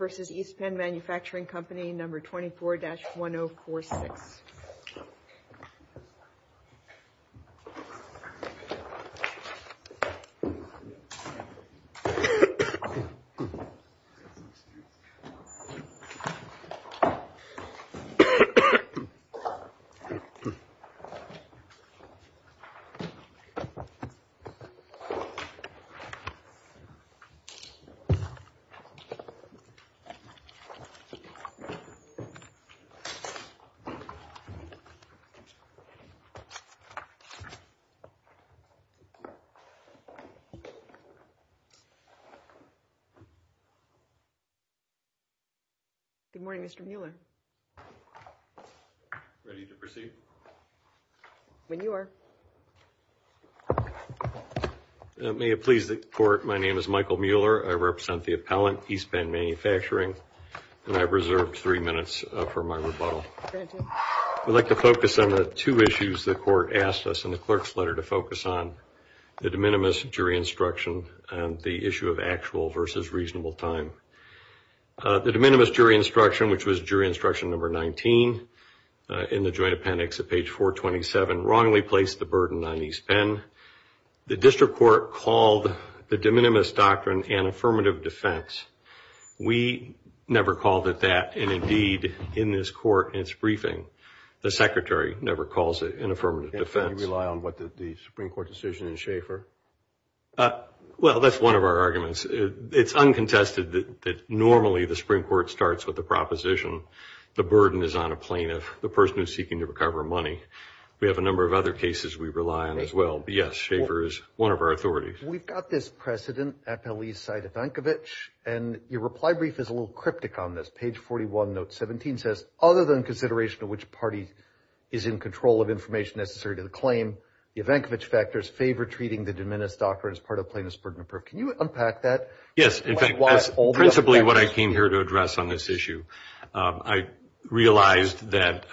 v. East Penn Manufacturing Company No. 24-1046. Good morning, Mr. Mueller. Ready to proceed? When you are. May it please the court, my name is Michael Mueller. I represent the appellant, East Penn Manufacturing, and I've reserved three minutes for my rebuttal. I'd like to focus on the two issues the court asked us in the clerk's letter to focus on, the de minimis jury instruction and the issue of actual versus reasonable time. The de minimis jury instruction, which was jury instruction No. 19 in the joint appendix at page 427, wrongly placed the burden on East Penn. The burden is on a plaintiff, the person who is seeking to recover money. We have a number of other cases we rely on as well. Yes, Schaefer is one of our authorities. We've got this precedent, appellee side Evankovich, and your reply brief is a little cryptic on this. Page 41, note 17 says, other than consideration of which party is in control of information necessary to the claim, the Evankovich factors favor treating the de minimis doctrine as part of plaintiff's burden of proof. Can you unpack that? Yes, in fact, that's principally what I came here to address on this issue. I realized that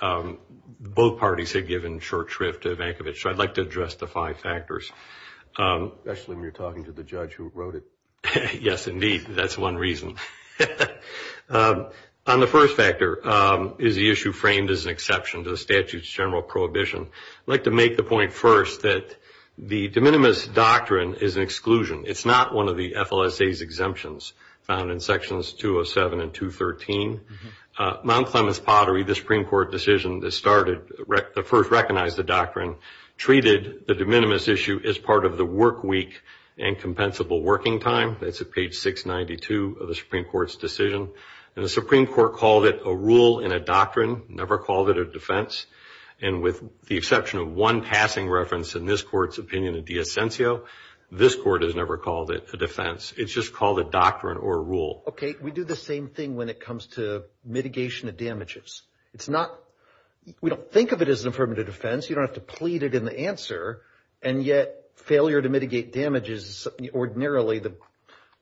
both parties had given short shrift to Evankovich, so I'd like to address the five factors. Especially when you're talking to the judge who wrote it. Yes, indeed, that's one reason. On the first factor, is the issue framed as an exception to the statute's general prohibition? I'd like to make the point first that the de minimis doctrine is an exclusion. It's not one of the FLSA's exemptions found in sections 207 and 213. Mount Clements Pottery, the Supreme Court decision that first recognized the doctrine, treated the de minimis issue as part of the work week and compensable working time. That's at page 692 of the Supreme Court's decision. The Supreme Court called it a rule and a doctrine, never called it a defense. With the exception of one passing reference in this court's opinion, a de essentio, this court has never called it a defense. It's just called a doctrine or a rule. Okay, we do the same thing when it comes to mitigation of damages. We don't think of it as an affirmative defense. You don't have to plead it in the answer, and yet failure to mitigate damages, ordinarily the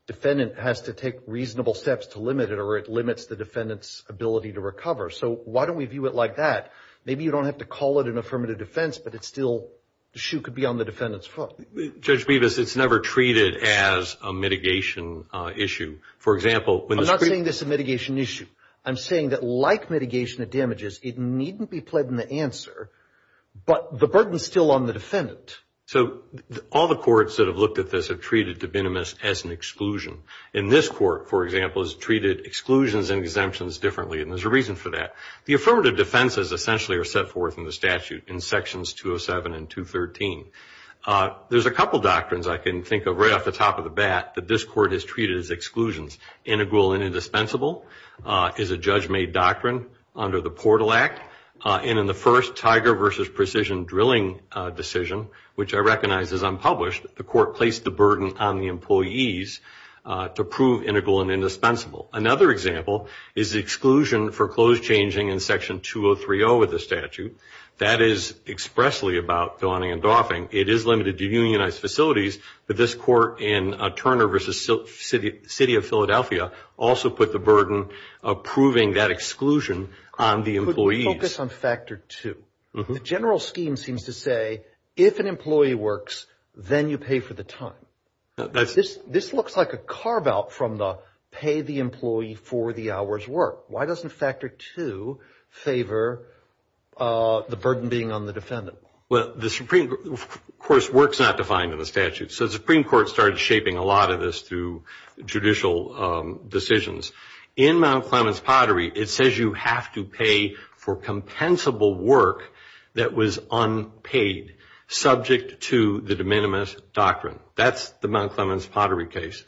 defendant has to take reasonable steps to limit it, or it limits the defendant's ability to recover. So why don't we view it like that? Maybe you don't have to call it an affirmative defense, but still, the shoe could be on the defendant's foot. Judge Bevis, it's never treated as a mitigation issue. I'm not saying this is a mitigation issue. I'm saying that like mitigation of damages, it needn't be pled in the answer, but the burden's still on the defendant. So all the courts that have looked at this have treated de minimis as an exclusion. In this court, for example, has treated exclusions and exemptions differently, and there's a reason for that. The affirmative defenses essentially are set forth in the statute in sections 207 and 213. There's a couple doctrines I can think of right off the top of the bat that this court has treated as exclusions. Integral and indispensable is a judge-made doctrine under the Portal Act, and in the first Tiger v. Precision drilling decision, which I recognize is unpublished, the court placed the burden on the employees to prove integral and indispensable. Another example is the exclusion for clothes changing in section 203-0 of the statute. That is expressly about donning and doffing. It is limited to unionized facilities, but this court in Turner v. City of Philadelphia also put the burden of proving that exclusion on the employees. Could we focus on Factor 2? The general scheme seems to say if an employee works, then you pay for the time. This looks like a carve-out from the pay the employee for the hour's work. Why doesn't Factor 2 favor the burden being on the defendant? The Supreme Court, of course, works not defined in the statute, so the Supreme Court started shaping a lot of this through judicial decisions. In Mount Clemens Pottery, it says you have to pay for compensable work that was unpaid, subject to the de minimis doctrine. That's the Mount Clemens Pottery case.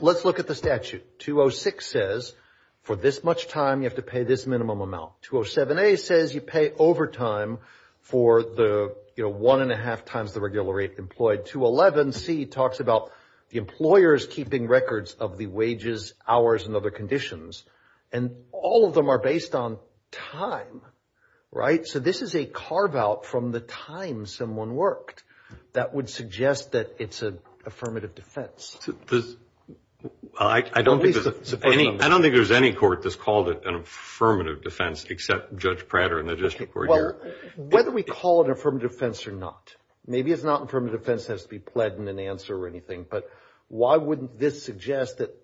Let's look at the statute. 206 says for this much time, you have to pay this minimum amount. 207a says you pay overtime for the one and a half times the regular rate employed. 211c talks about the employers keeping records of the wages, hours, and other conditions. All of them are based on time. This is a carve-out from the time someone worked. That would suggest that it's an affirmative defense. I don't think there's any court that's called it an affirmative defense except Judge Prater in the district court here. Whether we call it an affirmative defense or not, maybe it's not an affirmative defense that has to be pled in an answer or anything, but why wouldn't this suggest that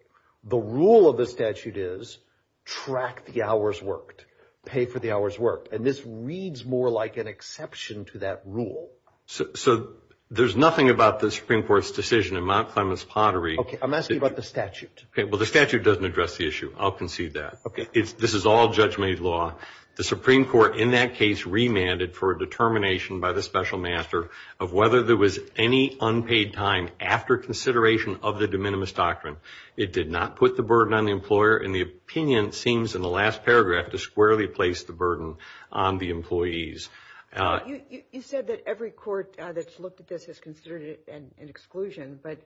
the rule of the statute is track the hours worked, pay for the hours worked. This reads more like an exception to that rule. So there's nothing about the Supreme Court's decision in Mount Clemens Pottery. Okay. I'm asking about the statute. Okay. Well, the statute doesn't address the issue. I'll concede that. Okay. This is all judge-made law. The Supreme Court in that case remanded for a determination by the special master of whether there was any unpaid time after consideration of the de minimis doctrine. It did not put the burden on the employer, and the opinion seems in the last paragraph to squarely place the burden on the employees. You said that every court that's looked at this has considered it an exclusion, but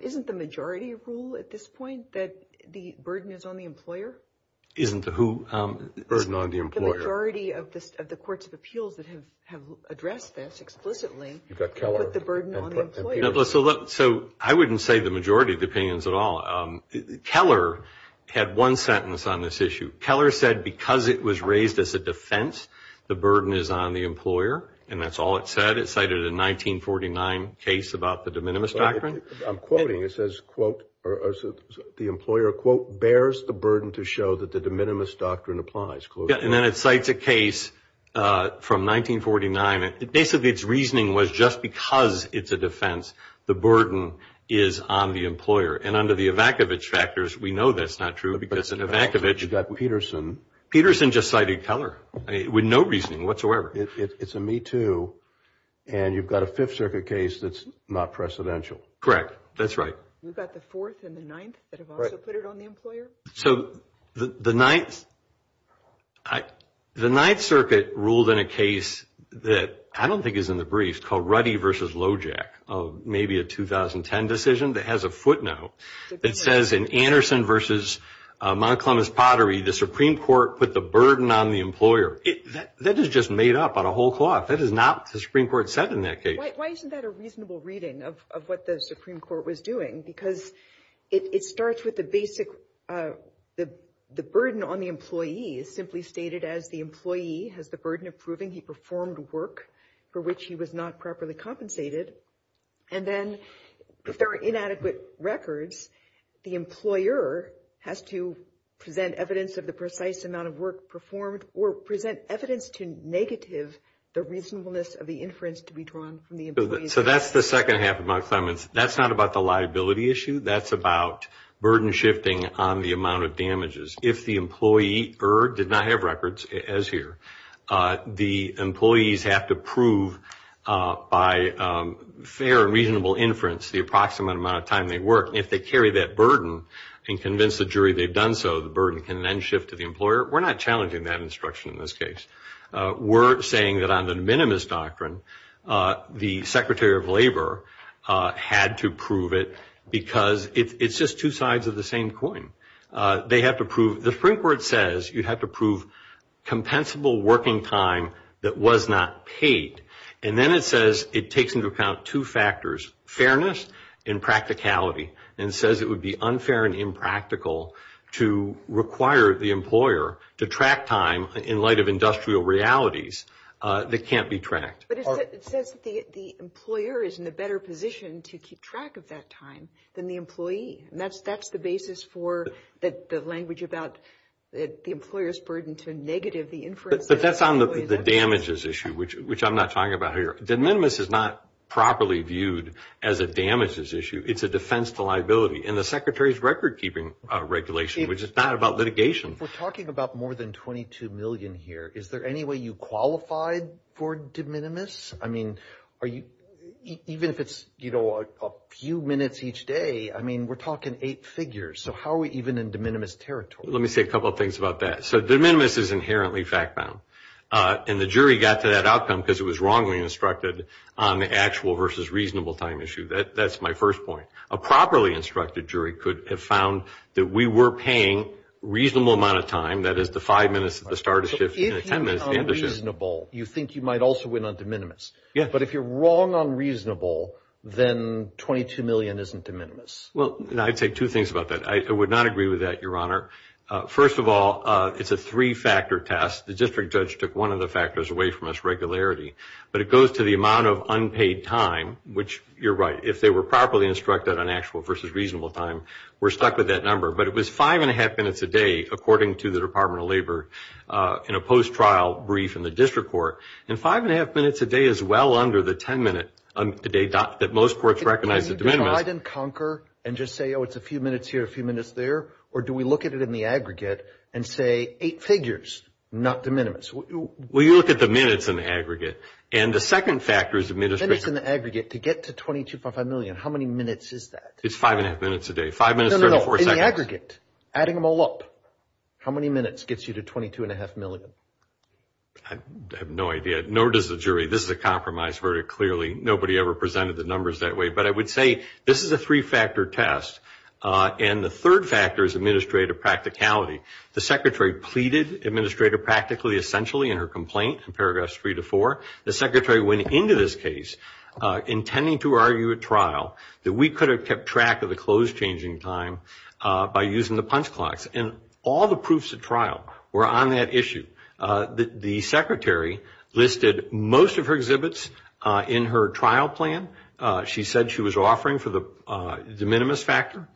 isn't the majority rule at this point that the burden is on the employer? Isn't the who? The burden on the employer. The majority of the courts of appeals that have addressed this explicitly put the burden on the employer. So I wouldn't say the majority of the opinions at all. Keller had one sentence on this issue. Keller said because it was raised as a defense, the burden is on the employer, and that's all it said. It cited a 1949 case about the de minimis doctrine. I'm quoting. It says, quote, or the employer, quote, bears the burden to show that the de minimis doctrine applies. Yeah. And then it cites a case from 1949. Basically, its reasoning was just because it's a defense, the burden is on the employer. And under the Ivakovich factors, we know that's not true because in Ivakovich, Peterson just cited Keller with no reasoning whatsoever. It's a Me Too, and you've got a Fifth Circuit case that's not precedential. Correct. That's right. You've got the Fourth and the Ninth that have also put it on the employer? So the Ninth Circuit ruled in a case that I don't think is in the brief called Ruddy v. Lojack of maybe a 2010 decision that has a footnote that says, in Anderson v. Montgomery's Pottery, the Supreme Court put the burden on the employer. That is just made up on a whole cloth. That is not what the Supreme Court said in that case. Why isn't that a reasonable reading of what the Supreme Court was doing? Because it starts with the basic, the burden on the employee is simply stated as the employee has the burden of proving he performed work for which he was not properly compensated. And then if there are inadequate records, the employer has to present evidence of the precise amount of work performed, or present evidence to negative the reasonableness of the inference to be drawn from the employee's record. So that's the second half of my comments. That's not about the liability issue. That's about burden shifting on the amount of damages. If the employer did not have records, as here, the employees have to prove by fair and reasonable inference the approximate amount of time they work. And if they carry that burden and convince the jury they've done so, the burden can then shift to the employer. We're not challenging that instruction in this case. We're saying that on the minimus doctrine, the Secretary of Labor had to prove it because it's just two sides of the same coin. They have to prove, the Supreme Court says you have to prove compensable working time that was not paid. And then it says it takes into account two factors, fairness and practicality, and says it would be unfair and impractical to require the employer to track time in light of industrial realities that can't be tracked. But it says that the employer is in a better position to keep track of that time than the employee. And that's the basis for the language about the employer's burden to negative the inference that the employer does. But that's on the damages issue, which I'm not talking about here. The minimus is not properly viewed as a damages issue. It's a defense to liability. And the Secretary's record keeping regulation, which is not about litigation. We're talking about more than $22 million here. Is there any way you qualified for de minimis? I mean, we're talking eight figures. So how are we even in de minimis territory? Let me say a couple of things about that. So de minimis is inherently fact-bound. And the jury got to that outcome because it was wrongly instructed on the actual versus reasonable time issue. That's my first point. A properly instructed jury could have found that we were paying a reasonable amount of time, that is the five minutes at the start of the shift and the ten minutes at the end of the shift. You think you might also win on de minimis. But if you're wrong on reasonable, then $22 million isn't de minimis. Well, I'd say two things about that. I would not agree with that, Your Honor. First of all, it's a three-factor test. The district judge took one of the factors away from us, regularity. But it goes to the amount of unpaid time, which you're right. If they were properly instructed on actual versus reasonable time, we're stuck with that number. But it was five and a half minutes a day, according to the Department of Labor, in a post-trial brief in the district court. And five and a half minutes a day is well under the ten-minute today that most courts recognize as de minimis. Can you divide and conquer and just say, oh, it's a few minutes here, a few minutes there? Or do we look at it in the aggregate and say eight figures, not de minimis? Well, you look at the minutes in the aggregate. And the second factor is administration. Minutes in the aggregate to get to $22.5 million, how many minutes is that? It's five and a half minutes a day. Five minutes, 34 seconds. No, no, no. In the aggregate, adding them all up, how many minutes gets you to $22.5 million? I have no idea. Nor does the jury. This is a compromise verdict, clearly. Nobody ever presented the numbers that way. But I would say this is a three-factor test. And the third factor is administrative practicality. The Secretary pleaded Administrator Practically Essentially in her complaint in paragraphs three to four. The Secretary went into this case intending to argue at trial that we could have kept track of the close changing time by using the punch clocks. And all the proofs at trial were on that issue. The Secretary listed most of her exhibits in her trial plan. She said she was offering for the de minimis factor.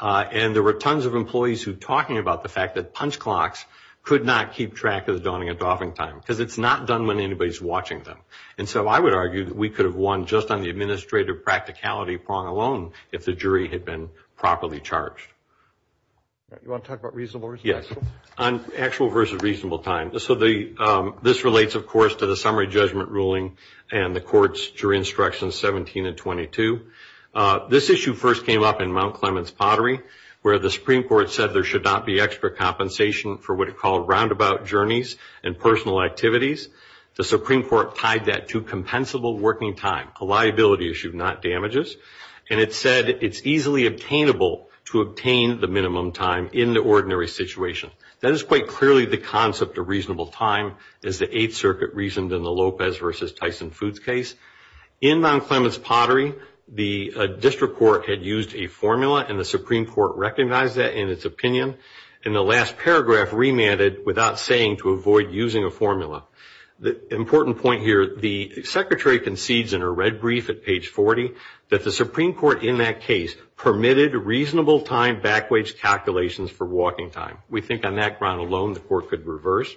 And there were tons of employees who were talking about the fact that punch clocks could not keep track of the dawning and dawning time because it's not done when anybody's watching them. And so I would argue that we could have won just on the administrative practicality prong alone if the jury had been properly charged. You want to talk about reasonable? Yes. On actual versus reasonable time. So this relates, of course, to the summary judgment ruling and the court's jury instructions 17 and 22. This issue first came up in Mount Clements Pottery where the Supreme Court said there should not be extra compensation for what it called roundabout journeys and personal activities. The Supreme Court tied that to compensable working time, a liability issue, not damages. And it said it's easily obtainable to obtain the minimum time in the ordinary situation. That is quite clearly the concept of reasonable time as the Eighth Circuit reasoned in the Lopez versus Tyson Foods case. In Mount Clements Pottery, the district court had used a formula and the Supreme Court recognized that in its opinion. And the last paragraph remanded without saying to avoid using a formula. The important point here, the Secretary concedes in a red brief at page 40 that the Supreme Court in that case permitted reasonable time backwage calculations for walking time. We think on that ground alone the court could reverse.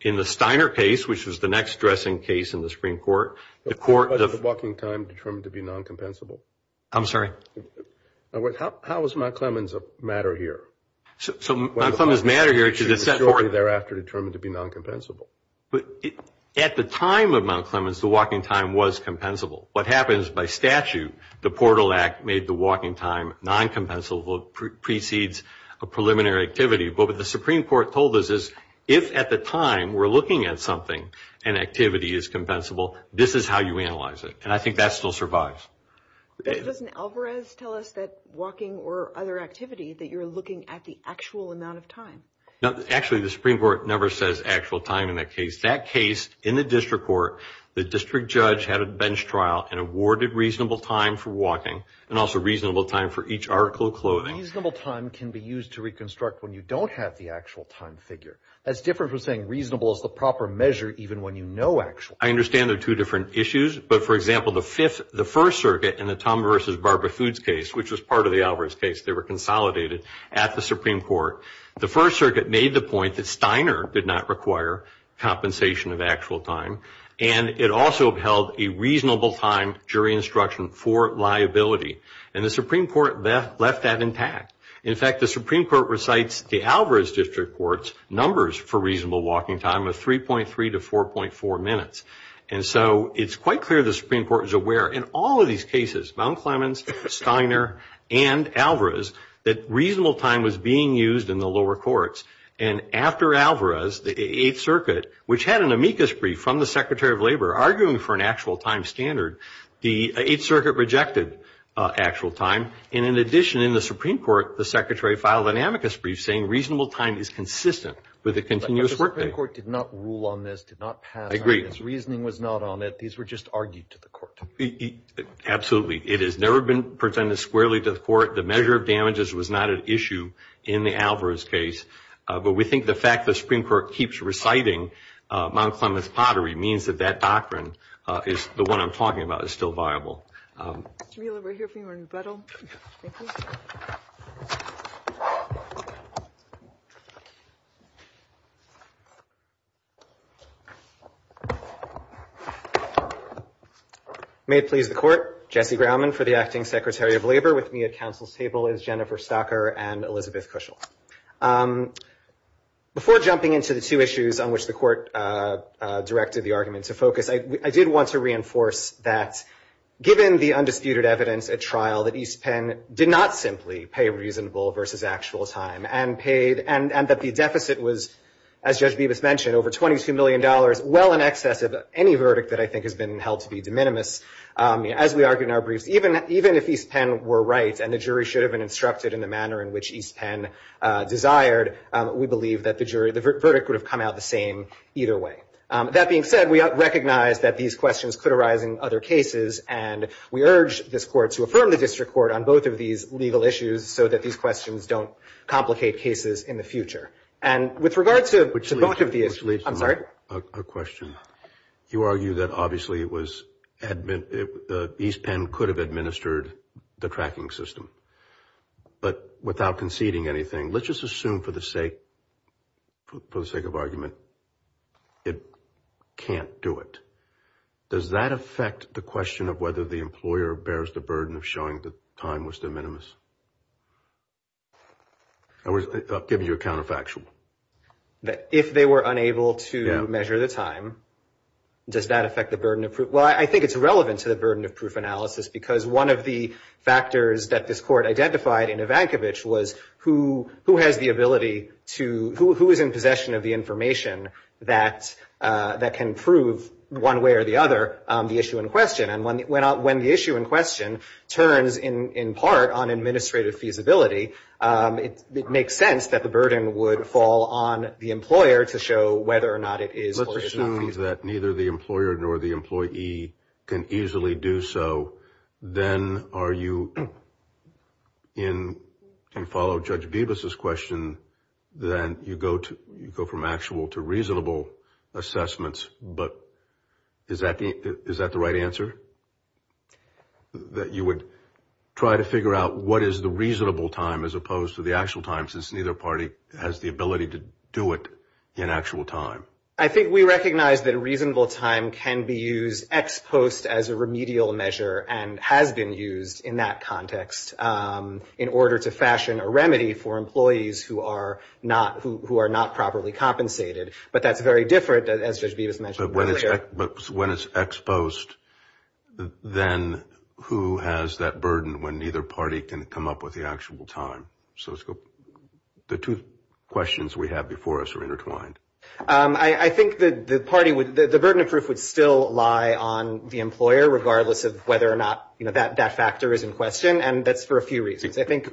In the Steiner case, which was the next dressing case in the Supreme Court, the court... But was the walking time determined to be non-compensable? I'm sorry? How is Mount Clements a matter here? Mount Clements a matter here because it's set forth... The majority thereafter determined to be non-compensable. But at the time of Mount Clements, the walking time was compensable. What happens by statute, the Portal Act made the walking time non-compensable, precedes a preliminary activity. But what the Supreme Court told us is if at the time we're looking at something, an activity is compensable, this is how you analyze it. And I think that still survives. But doesn't Alvarez tell us that walking or other activity, that you're looking at the actual amount of time? No, actually the Supreme Court never says actual time in that case. That case, in the district court, the district judge had a bench trial and awarded reasonable time for walking and also reasonable time for each article of clothing. Reasonable time can be used to reconstruct when you don't have the actual time figure. That's different from saying reasonable is the proper measure even when you know actually. I understand there are two different issues, but for example, the First Circuit in the Tom versus Barbara Foods case, which was part of the Alvarez case, they were consolidated at the Supreme Court. The First Circuit made the point that Steiner did not require compensation of actual time. And it also held a reasonable time, jury instruction, for liability. And the Supreme Court left that intact. In fact, the Supreme Court recites the Alvarez district court's numbers for reasonable walking time of 3.3 to 4.4 minutes. And so it's quite clear the Supreme Court is aware in all of these cases, Mount Clemens, Steiner, and Alvarez, that reasonable time was being used in the lower courts. And after Alvarez, the Eighth Circuit, which had an amicus brief from the Secretary of Labor arguing for an actual time standard, the Eighth Circuit rejected actual time. And in addition, in the Supreme Court, the Secretary filed an amicus brief saying reasonable time is consistent with a continuous workday. But the Supreme Court did not rule on this, did not pass on it. I agree. This reasoning was not on it. These were just argued to the court. Absolutely. It has never been presented squarely to the court. The measure of damages was not an issue in the Alvarez case. But we think the fact the Supreme Court keeps reciting Mount Clemens pottery means that that doctrine is the one I'm talking about is still viable. Mr. Mueller, we're here for your rebuttal. Thank you. May it please the Court. Jesse Grauman for the Acting Secretary of Labor. With me at Council's table is Jennifer Stocker and Elizabeth Kuschel. Before jumping into the two issues on which the Court directed the argument to focus, I did want to reinforce that given the undisputed evidence at trial that East Penn did not simply pay reasonable versus actual time and that the deficit was, as Judge Bibas mentioned, over $22 million, well in excess of any verdict that I think has been held to be de minimis, as we argued in our briefs. Even if East Penn were right and the jury should have been instructed in the manner in which East Penn desired, we believe that the verdict would have come out the same either way. That being said, we recognize that these questions could arise in other cases, and we urge this Court to affirm the district court on both of these legal issues so that these questions don't complicate cases in the future. And with regards to both of these – Which leads to a question. You argue that obviously it was – East Penn could have administered the tracking system. But without conceding anything, let's just assume for the sake of argument, it can't do it. Does that affect the question of whether the employer bears the burden of showing that time was de minimis? I'm giving you a counterfactual. If they were unable to measure the time, does that affect the burden of proof? Well, I think it's relevant to the burden of proof analysis because one of the factors that this Court identified in Ivankovich was who has the ability to – who is in possession of the information that can prove, one way or the other, the issue in question. And when the issue in question turns in part on administrative feasibility, it makes sense that the burden would fall on the employer to show whether or not it is or is not feasible. If that means that neither the employer nor the employee can easily do so, then are you in – can follow Judge Bibas's question, then you go from actual to reasonable assessments. But is that the right answer? That you would try to figure out what is the reasonable time as opposed to the actual time since neither party has the ability to do it in actual time? I think we recognize that a reasonable time can be used ex post as a remedial measure and has been used in that context in order to fashion a remedy for employees who are not properly compensated. But that's very different, as Judge Bibas mentioned earlier. But when it's ex post, then who has that burden when neither party can come up with the actual time? The two questions we have before us are intertwined. I think the burden of proof would still lie on the employer, regardless of whether or not that factor is in question, and that's for a few reasons. I think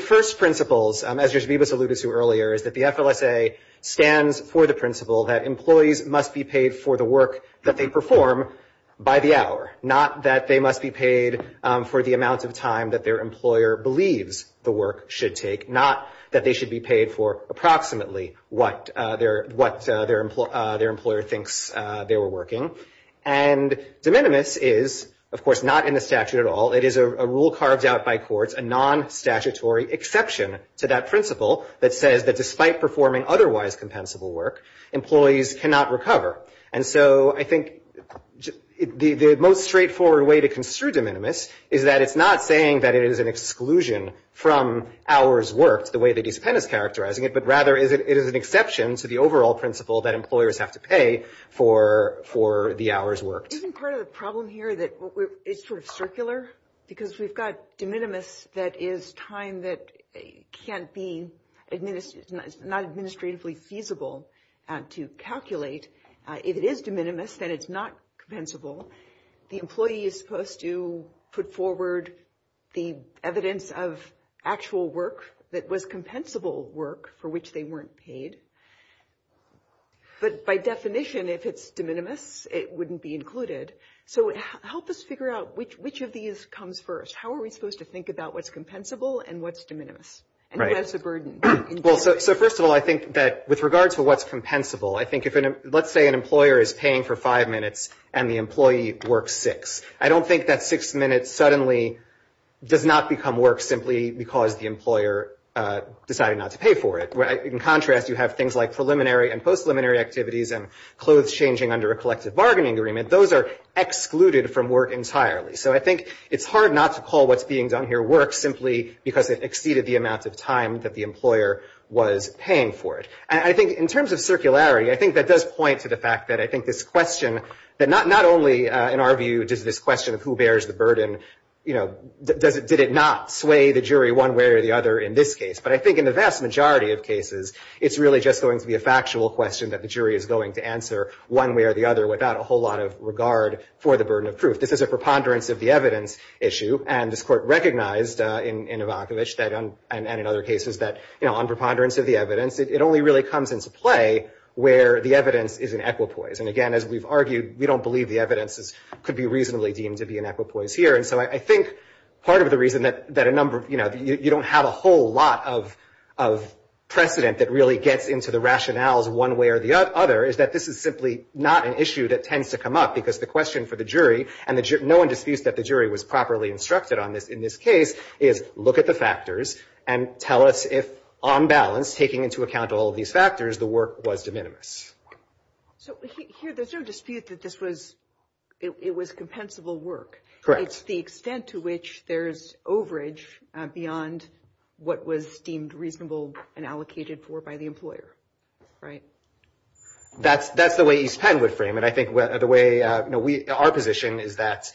first principles, as Judge Bibas alluded to earlier, is that the FLSA stands for the principle that employees must be paid for the work that they perform by the hour, not that they must be paid for the amount of time that their employer believes the work should take, not that they should be paid for approximately what their employer thinks they were working. And de minimis is, of course, not in the statute at all. It is a rule carved out by courts, a non-statutory exception to that principle that says that despite performing otherwise compensable work, employees cannot recover. And so I think the most straightforward way to construe de minimis is that it's not saying that it is an exclusion from hours worked, the way the discipline is characterizing it, but rather it is an exception to the overall principle that employers have to pay for the hours worked. Isn't part of the problem here that it's sort of circular? Because we've got de minimis that is time that can't be not administratively feasible to calculate. If it is de minimis, then it's not compensable. The employee is supposed to put forward the evidence of actual work that was compensable work for which they weren't paid. But by definition, if it's de minimis, it wouldn't be included. So help us figure out which of these comes first. How are we supposed to think about what's compensable and what's de minimis? And what is the burden? Well, so first of all, I think that with regards to what's compensable, I think if let's say an employer is paying for five minutes and the employee works six. I don't think that six minutes suddenly does not become work simply because the employer decided not to pay for it. In contrast, you have things like preliminary and post-preliminary activities and clothes changing under a collective bargaining agreement. Those are excluded from work entirely. So I think it's hard not to call what's being done here work simply because it exceeded the amount of time that the employer was paying for it. And I think in terms of circularity, I think that does point to the fact that I think this question, that not only in our view does this question of who bears the burden, you know, did it not sway the jury one way or the other in this case? But I think in the vast majority of cases, it's really just going to be a factual question that the jury is going to answer one way or the other without a whole lot of regard for the burden of proof. This is a preponderance of the evidence issue. And this Court recognized in Ivanovich and in other cases that, you know, on preponderance of the evidence, it only really comes into play where the evidence is in equipoise. And again, as we've argued, we don't believe the evidence could be reasonably deemed to be in equipoise here. And so I think part of the reason that a number of, you know, you don't have a whole lot of precedent that really gets into the rationales one way or the other, is that this is simply not an issue that tends to come up because the question for the jury, and no one disputes that the jury was properly instructed on this in this case, is look at the factors and tell us if on balance, taking into account all of these factors, the work was de minimis. So here there's no dispute that this was, it was compensable work. It's the extent to which there's overage beyond what was deemed reasonable and allocated for by the employer, right? That's the way East Penn would frame it. I think the way, you know, our position is that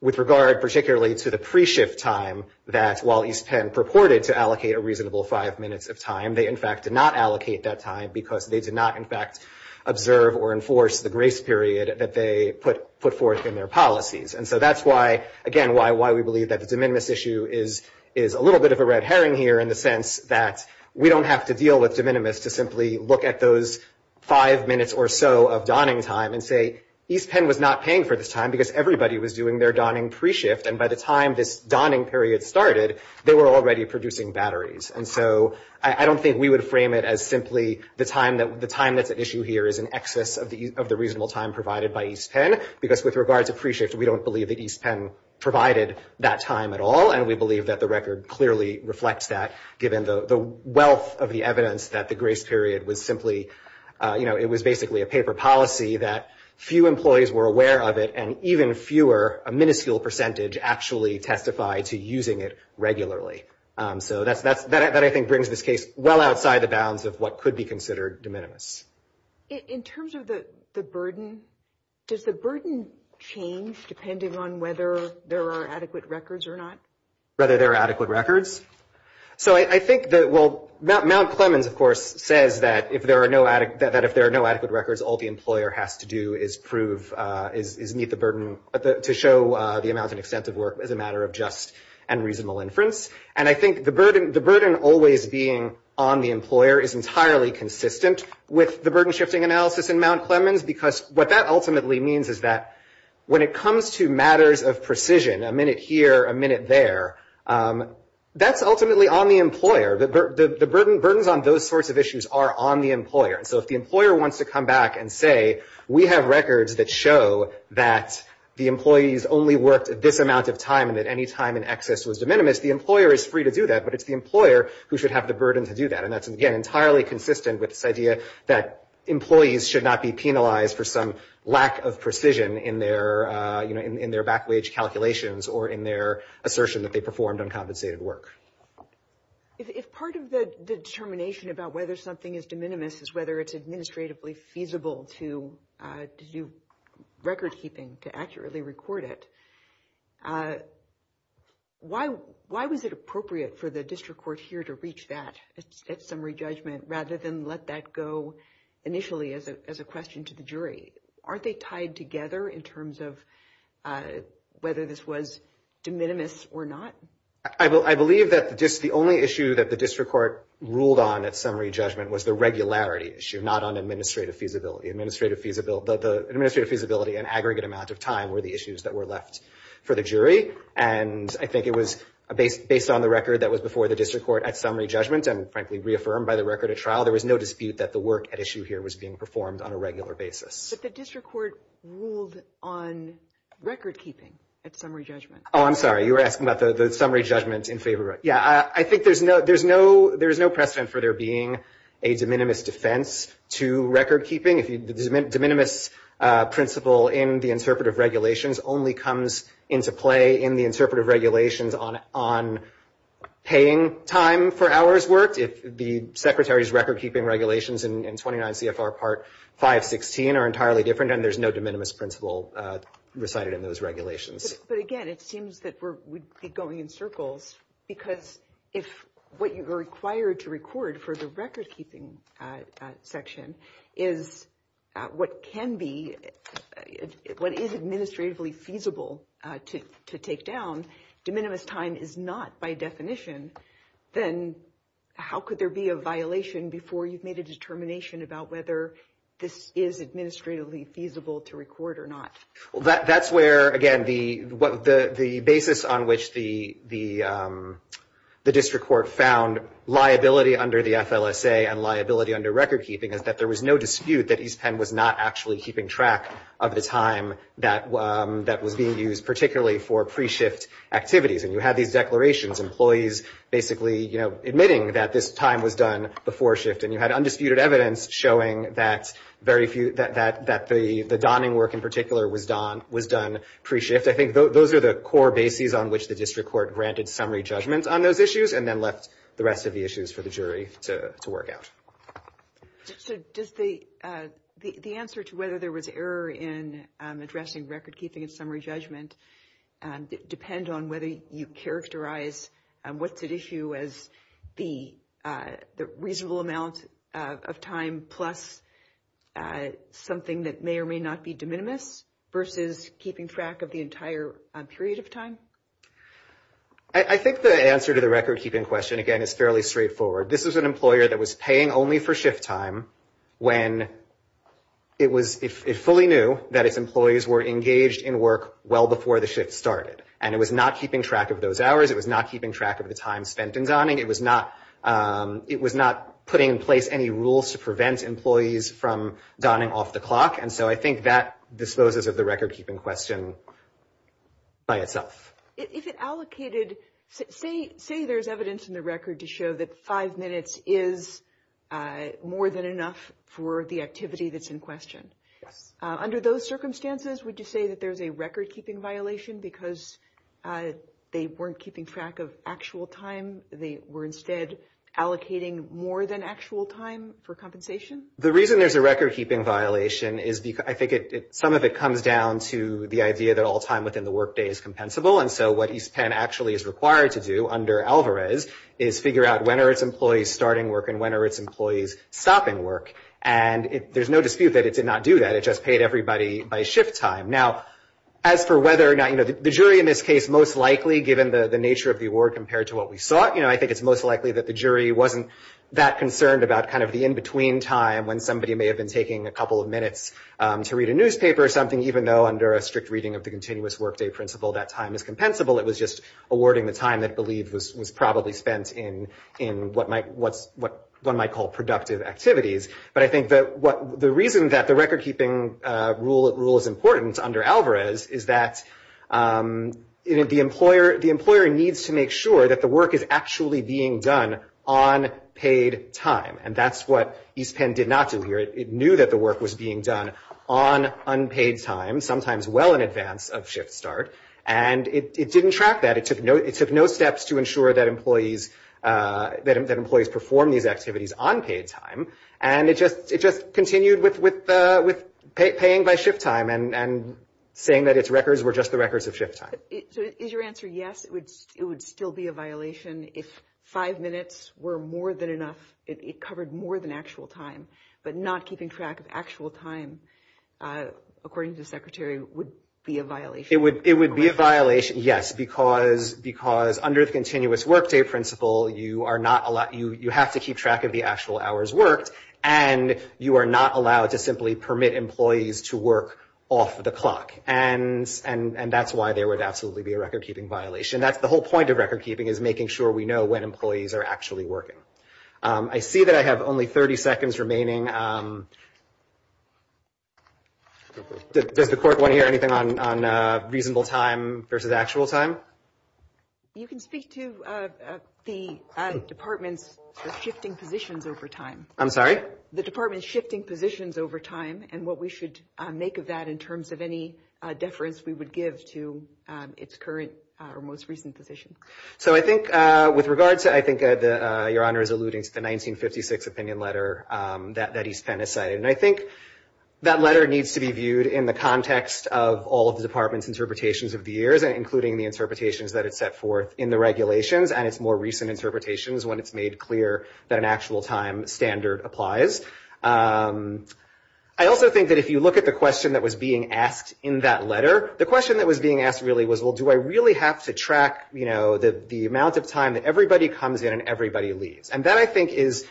with regard particularly to the pre-shift time, that while East Penn purported to allocate a reasonable five minutes of time, they in fact did not allocate that time because they did not in fact observe or enforce the grace period that they put forth in their policies. And so that's why, again, why we believe that the de minimis issue is a little bit of a red herring here in the sense that we don't have to deal with de minimis to simply look at those five minutes or so of donning time and say East Penn was not paying for this time because everybody was doing their donning pre-shift, and by the time this donning period started, they were already producing batteries. And so I don't think we would frame it as simply the time that's at issue here is in excess of the reasonable time provided by East Penn because with regard to pre-shift, we don't believe that East Penn provided that time at all, and we believe that the record clearly reflects that given the wealth of the evidence that the grace period was simply, you know, it was basically a paper policy that few employees were aware of it, and even fewer, a minuscule percentage, actually testified to using it regularly. So that, I think, brings this case well outside the bounds of what could be considered de minimis. In terms of the burden, does the burden change depending on whether there are adequate records or not? Whether there are adequate records? So I think that Mount Clemens, of course, says that if there are no adequate records, all the employer has to do is prove, is meet the burden to show the amount and extent of work as a matter of just and reasonable inference. And I think the burden always being on the employer is entirely consistent with the burden-shifting analysis in Mount Clemens because what that ultimately means is that when it comes to matters of precision, a minute here, a minute there, that's ultimately on the employer. The burdens on those sorts of issues are on the employer. And so if the employer wants to come back and say, we have records that show that the employees only worked this amount of time and that any time in excess was de minimis, the employer is free to do that, but it's the employer who should have the burden to do that. And that's, again, entirely consistent with this idea that employees should not be penalized for some lack of precision in their back-wage calculations or in their assertion that they performed uncompensated work. If part of the determination about whether something is de minimis is whether it's administratively feasible to do record-keeping, to accurately record it, why was it appropriate for the district court here to reach that at summary judgment rather than let that go initially as a question to the jury? Aren't they tied together in terms of whether this was de minimis or not? I believe that the only issue that the district court ruled on at summary judgment was the regularity issue, not on administrative feasibility. Administrative feasibility and aggregate amount of time were the issues that were left for the jury. And I think it was based on the record that was before the district court at summary judgment and frankly reaffirmed by the record at trial, there was no dispute that the work at issue here was being performed on a regular basis. But the district court ruled on record-keeping at summary judgment. Oh, I'm sorry. You were asking about the summary judgment in favor. Yeah, I think there's no precedent for there being a de minimis defense to record-keeping. The de minimis principle in the interpretive regulations only comes into play in the interpretive regulations on paying time for hours worked. The Secretary's record-keeping regulations in 29 CFR Part 516 are entirely different, and there's no de minimis principle recited in those regulations. But, again, it seems that we're going in circles, because if what you are required to record for the record-keeping section is what can be, what is administratively feasible to take down, de minimis time is not by definition, then how could there be a violation before you've made a determination about whether this is administratively feasible to record or not? That's where, again, the basis on which the district court found liability under the FLSA and liability under record-keeping is that there was no dispute that East Penn was not actually keeping track of the time that was being used, particularly for pre-shift activities. And you had these declarations, employees basically admitting that this time was done before shift, and you had undisputed evidence showing that the donning work in particular was done pre-shift. I think those are the core bases on which the district court granted summary judgment on those issues and then left the rest of the issues for the jury to work out. So does the answer to whether there was error in addressing record-keeping and summary judgment depend on whether you characterize what's at issue as the reasonable amount of time plus something that may or may not be de minimis versus keeping track of the entire period of time? I think the answer to the record-keeping question, again, is fairly straightforward. This is an employer that was paying only for shift time when it fully knew that its employees were engaged in work well before the shift started. And it was not keeping track of those hours. It was not keeping track of the time spent in donning. It was not putting in place any rules to prevent employees from donning off the clock. And so I think that disposes of the record-keeping question by itself. If it allocated, say there's evidence in the record to show that five minutes is more than enough for the activity that's in question. Yes. Under those circumstances, would you say that there's a record-keeping violation because they weren't keeping track of actual time? They were instead allocating more than actual time for compensation? The reason there's a record-keeping violation is I think some of it comes down to the idea that all time within the workday is compensable. And so what East Penn actually is required to do under Alvarez is figure out when are its employees starting work and when are its employees stopping work. And there's no dispute that it did not do that. It just paid everybody by shift time. Now, as for whether or not, you know, the jury in this case most likely, given the nature of the award compared to what we saw, you know, I think it's most likely that the jury wasn't that concerned about kind of the in-between time when somebody may have been taking a couple of minutes to read a newspaper or something, even though under a strict reading of the continuous workday principle that time is compensable. It was just awarding the time that believed was probably spent in what one might call productive activities. But I think the reason that the record-keeping rule is important under Alvarez is that, you know, the employer needs to make sure that the work is actually being done on paid time. And that's what East Penn did not do here. It knew that the work was being done on unpaid time, sometimes well in advance of shift start, and it didn't track that. It took no steps to ensure that employees performed these activities on paid time. And it just continued with paying by shift time and saying that its records were just the records of shift time. So is your answer yes, it would still be a violation if five minutes were more than enough, it covered more than actual time, but not keeping track of actual time, according to the secretary, would be a violation? It would be a violation, yes, because under the continuous workday principle, you have to keep track of the actual hours worked, and you are not allowed to simply permit employees to work off the clock. And that's why there would absolutely be a record-keeping violation. That's the whole point of record-keeping is making sure we know when employees are actually working. I see that I have only 30 seconds remaining. Does the court want to hear anything on reasonable time versus actual time? You can speak to the department's shifting positions over time. I'm sorry? The department's shifting positions over time and what we should make of that in terms of any deference we would give to its current or most recent position. So I think with regards to, I think Your Honor is alluding to the 1956 opinion letter that East Penn has cited. And I think that letter needs to be viewed in the context of all of the department's interpretations of the years, including the interpretations that it set forth in the regulations and its more recent interpretations when it's made clear that an actual time standard applies. I also think that if you look at the question that was being asked in that letter, the question that was being asked really was, well, do I really have to track, you know, the amount of time that everybody comes in and everybody leaves? And that I think is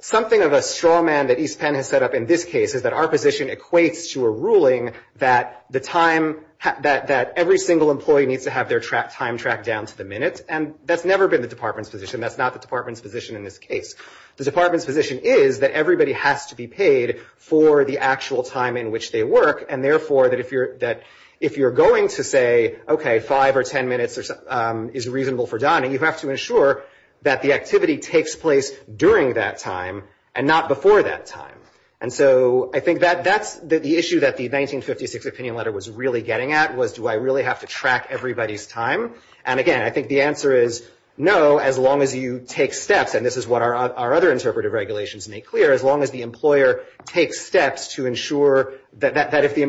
something of a straw man that East Penn has set up in this case, is that our position equates to a ruling that the time that every single employee needs to have their time tracked down to the minute. And that's never been the department's position. That's not the department's position in this case. The department's position is that everybody has to be paid for the actual time in which they work, and therefore that if you're going to say, okay, five or ten minutes is reasonable for Don, you have to ensure that the activity takes place during that time and not before that time. And so I think that that's the issue that the 1956 opinion letter was really getting at was, do I really have to track everybody's time? And, again, I think the answer is no, as long as you take steps, and this is what our other interpretive regulations make clear, as long as the employer takes steps to ensure that if the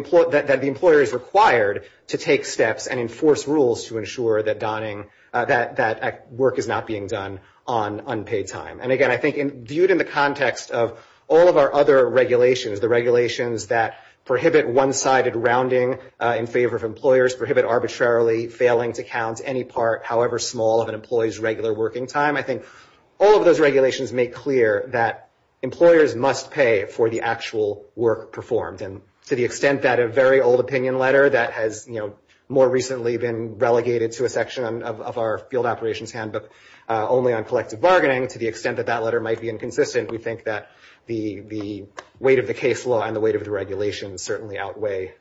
employer is required to take steps and enforce rules to ensure that work is not being done on unpaid time. And, again, I think viewed in the context of all of our other regulations, the regulations that prohibit one-sided rounding in favor of employers, prohibit arbitrarily failing to count any part, however small, of an employee's regular working time, I think all of those regulations make clear that employers must pay for the actual work performed. And to the extent that a very old opinion letter that has, you know, more recently been relegated to a section of our field operations handbook only on collective bargaining, to the extent that that letter might be inconsistent, we think that the weight of the case law and the weight of the regulations certainly outweigh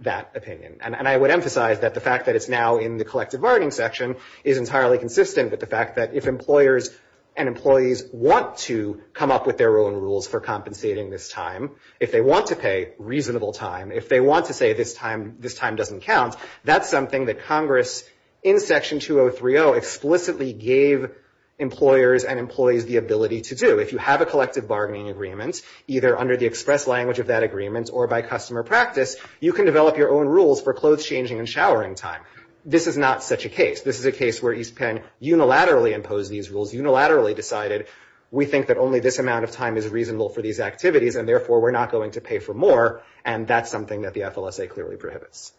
that opinion. And I would emphasize that the fact that it's now in the collective bargaining section is entirely consistent with the fact that if employers and employees want to come up with their own rules for compensating this time, if they want to pay reasonable time, if they want to say this time doesn't count, that's something that Congress in Section 2030 explicitly gave employers and employees the ability to do. If you have a collective bargaining agreement, either under the express language of that agreement or by customer practice, you can develop your own rules for clothes changing and showering time. This is not such a case. This is a case where East Penn unilaterally imposed these rules, unilaterally decided, we think that only this amount of time is reasonable for these activities, and therefore we're not going to pay for more. And that's something that the FLSA clearly prohibits.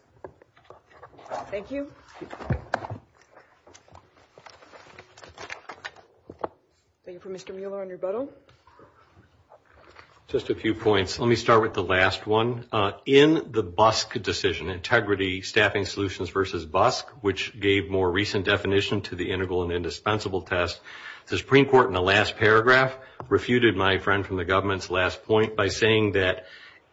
Thank you. Thank you for Mr. Mueller on rebuttal. Just a few points. Let me start with the last one. In the BUSC decision, Integrity Staffing Solutions versus BUSC, which gave more recent definition to the integral and indispensable test, the Supreme Court in the last paragraph refuted my friend from the government's last point by saying that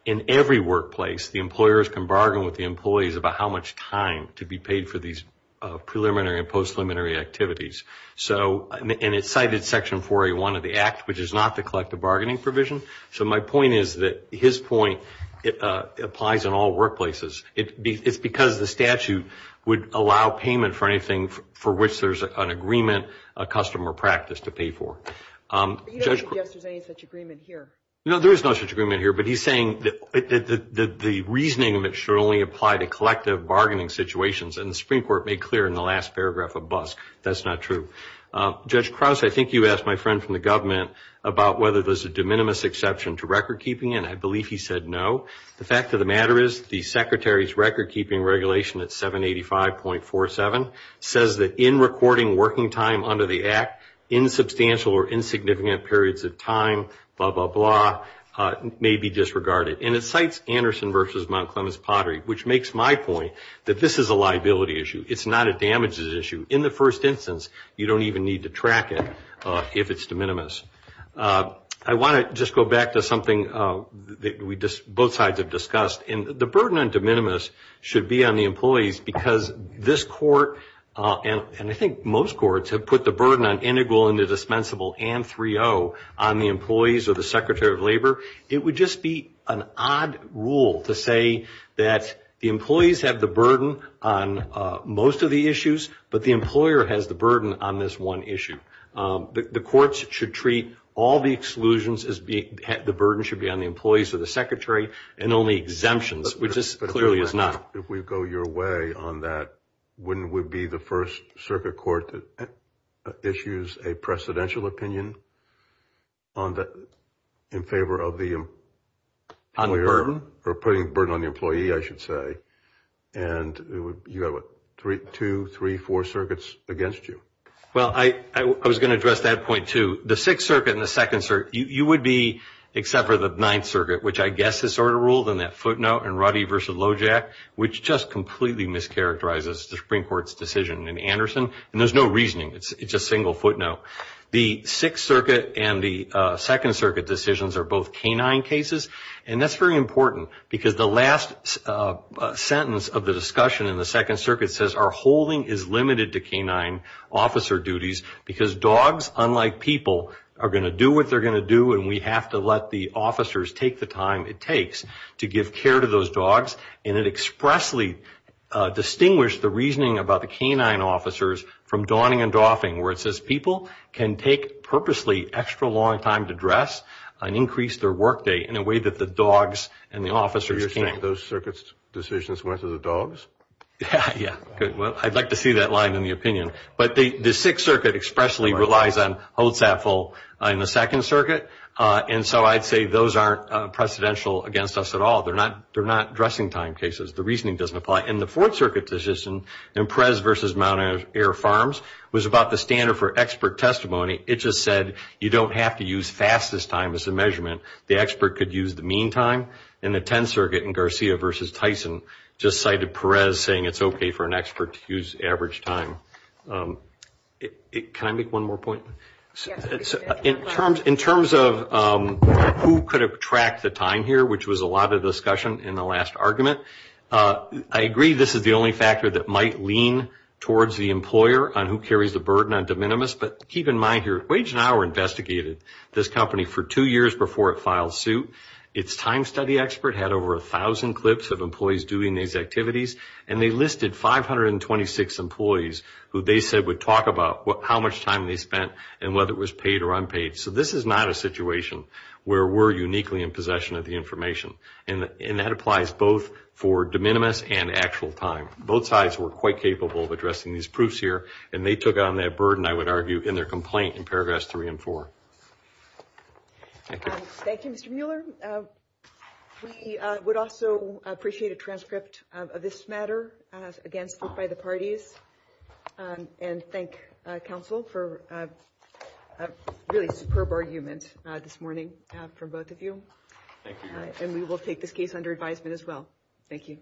in every workplace the employers can bargain with the employees about how much time to be paid for these preliminary and post-preliminary activities. And it cited Section 4A1 of the Act, which is not the collective bargaining provision. So my point is that his point applies in all workplaces. It's because the statute would allow payment for anything for which there's an agreement, a custom or practice to pay for. I don't think there's any such agreement here. No, there is no such agreement here. But he's saying that the reasoning of it should only apply to collective bargaining situations, and the Supreme Court made clear in the last paragraph of BUSC that's not true. Judge Krause, I think you asked my friend from the government about whether there's a de minimis exception to recordkeeping, and I believe he said no. The fact of the matter is the Secretary's recordkeeping regulation at 785.47 says that in recording working time under the Act, insubstantial or insignificant periods of time, blah, blah, blah, may be disregarded. And it cites Anderson v. Mount Clemens Pottery, which makes my point that this is a liability issue. It's not a damages issue. In the first instance, you don't even need to track it if it's de minimis. I want to just go back to something that both sides have discussed. And the burden on de minimis should be on the employees because this court and I think most courts have put the burden on integral and the dispensable and 3.0 on the employees or the Secretary of Labor. It would just be an odd rule to say that the employees have the burden on most of the issues, but the employer has the burden on this one issue. The courts should treat all the exclusions as the burden should be on the employees or the Secretary and only exemptions, which this clearly is not. If we go your way on that, wouldn't it be the first circuit court that issues a presidential opinion in favor of the employer or putting the burden on the employee, I should say, and you have two, three, four circuits against you? Well, I was going to address that point, too. The Sixth Circuit and the Second Circuit, you would be, except for the Ninth Circuit, which I guess is sort of ruled in that footnote in Ruddy v. Lojack, which just completely mischaracterizes the Supreme Court's decision in Anderson, and there's no reasoning. It's a single footnote. The Sixth Circuit and the Second Circuit decisions are both canine cases, and that's very important because the last sentence of the discussion in the Second Circuit says, our holding is limited to canine officer duties because dogs, unlike people, are going to do what they're going to do, and we have to let the officers take the time it takes to give care to those dogs, and it expressly distinguished the reasoning about the canine officers from Dawning and Doffing, where it says people can take purposely extra long time to dress and increase their work day in a way that the dogs and the officers can't. So you're saying those circuit decisions went to the dogs? Yeah. Well, I'd like to see that line in the opinion. But the Sixth Circuit expressly relies on hold sat full in the Second Circuit, and so I'd say those aren't precedential against us at all. They're not dressing time cases. The reasoning doesn't apply. And the Fourth Circuit decision in Perez v. Mount Air Farms was about the standard for expert testimony. It just said you don't have to use fastest time as a measurement. The expert could use the mean time, and the Tenth Circuit in Garcia v. Tyson just cited Perez saying it's okay for an expert to use average time. Can I make one more point? Yes. In terms of who could have tracked the time here, which was a lot of discussion in the last argument, I agree this is the only factor that might lean towards the employer on who carries the burden on de minimis, but keep in mind here, Wage and Hour investigated this company for two years before it filed suit. Its time study expert had over 1,000 clips of employees doing these activities, and they listed 526 employees who they said would talk about how much time they spent and whether it was paid or unpaid. So this is not a situation where we're uniquely in possession of the information, and that applies both for de minimis and actual time. Both sides were quite capable of addressing these proofs here, and they took on that burden, I would argue, in their complaint in paragraphs 3 and 4. Thank you. Thank you, Mr. Mueller. We would also appreciate a transcript of this matter, again, spoke by the parties, and thank counsel for a really superb argument this morning from both of you. Thank you. And we will take this case under advisement as well. Thank you.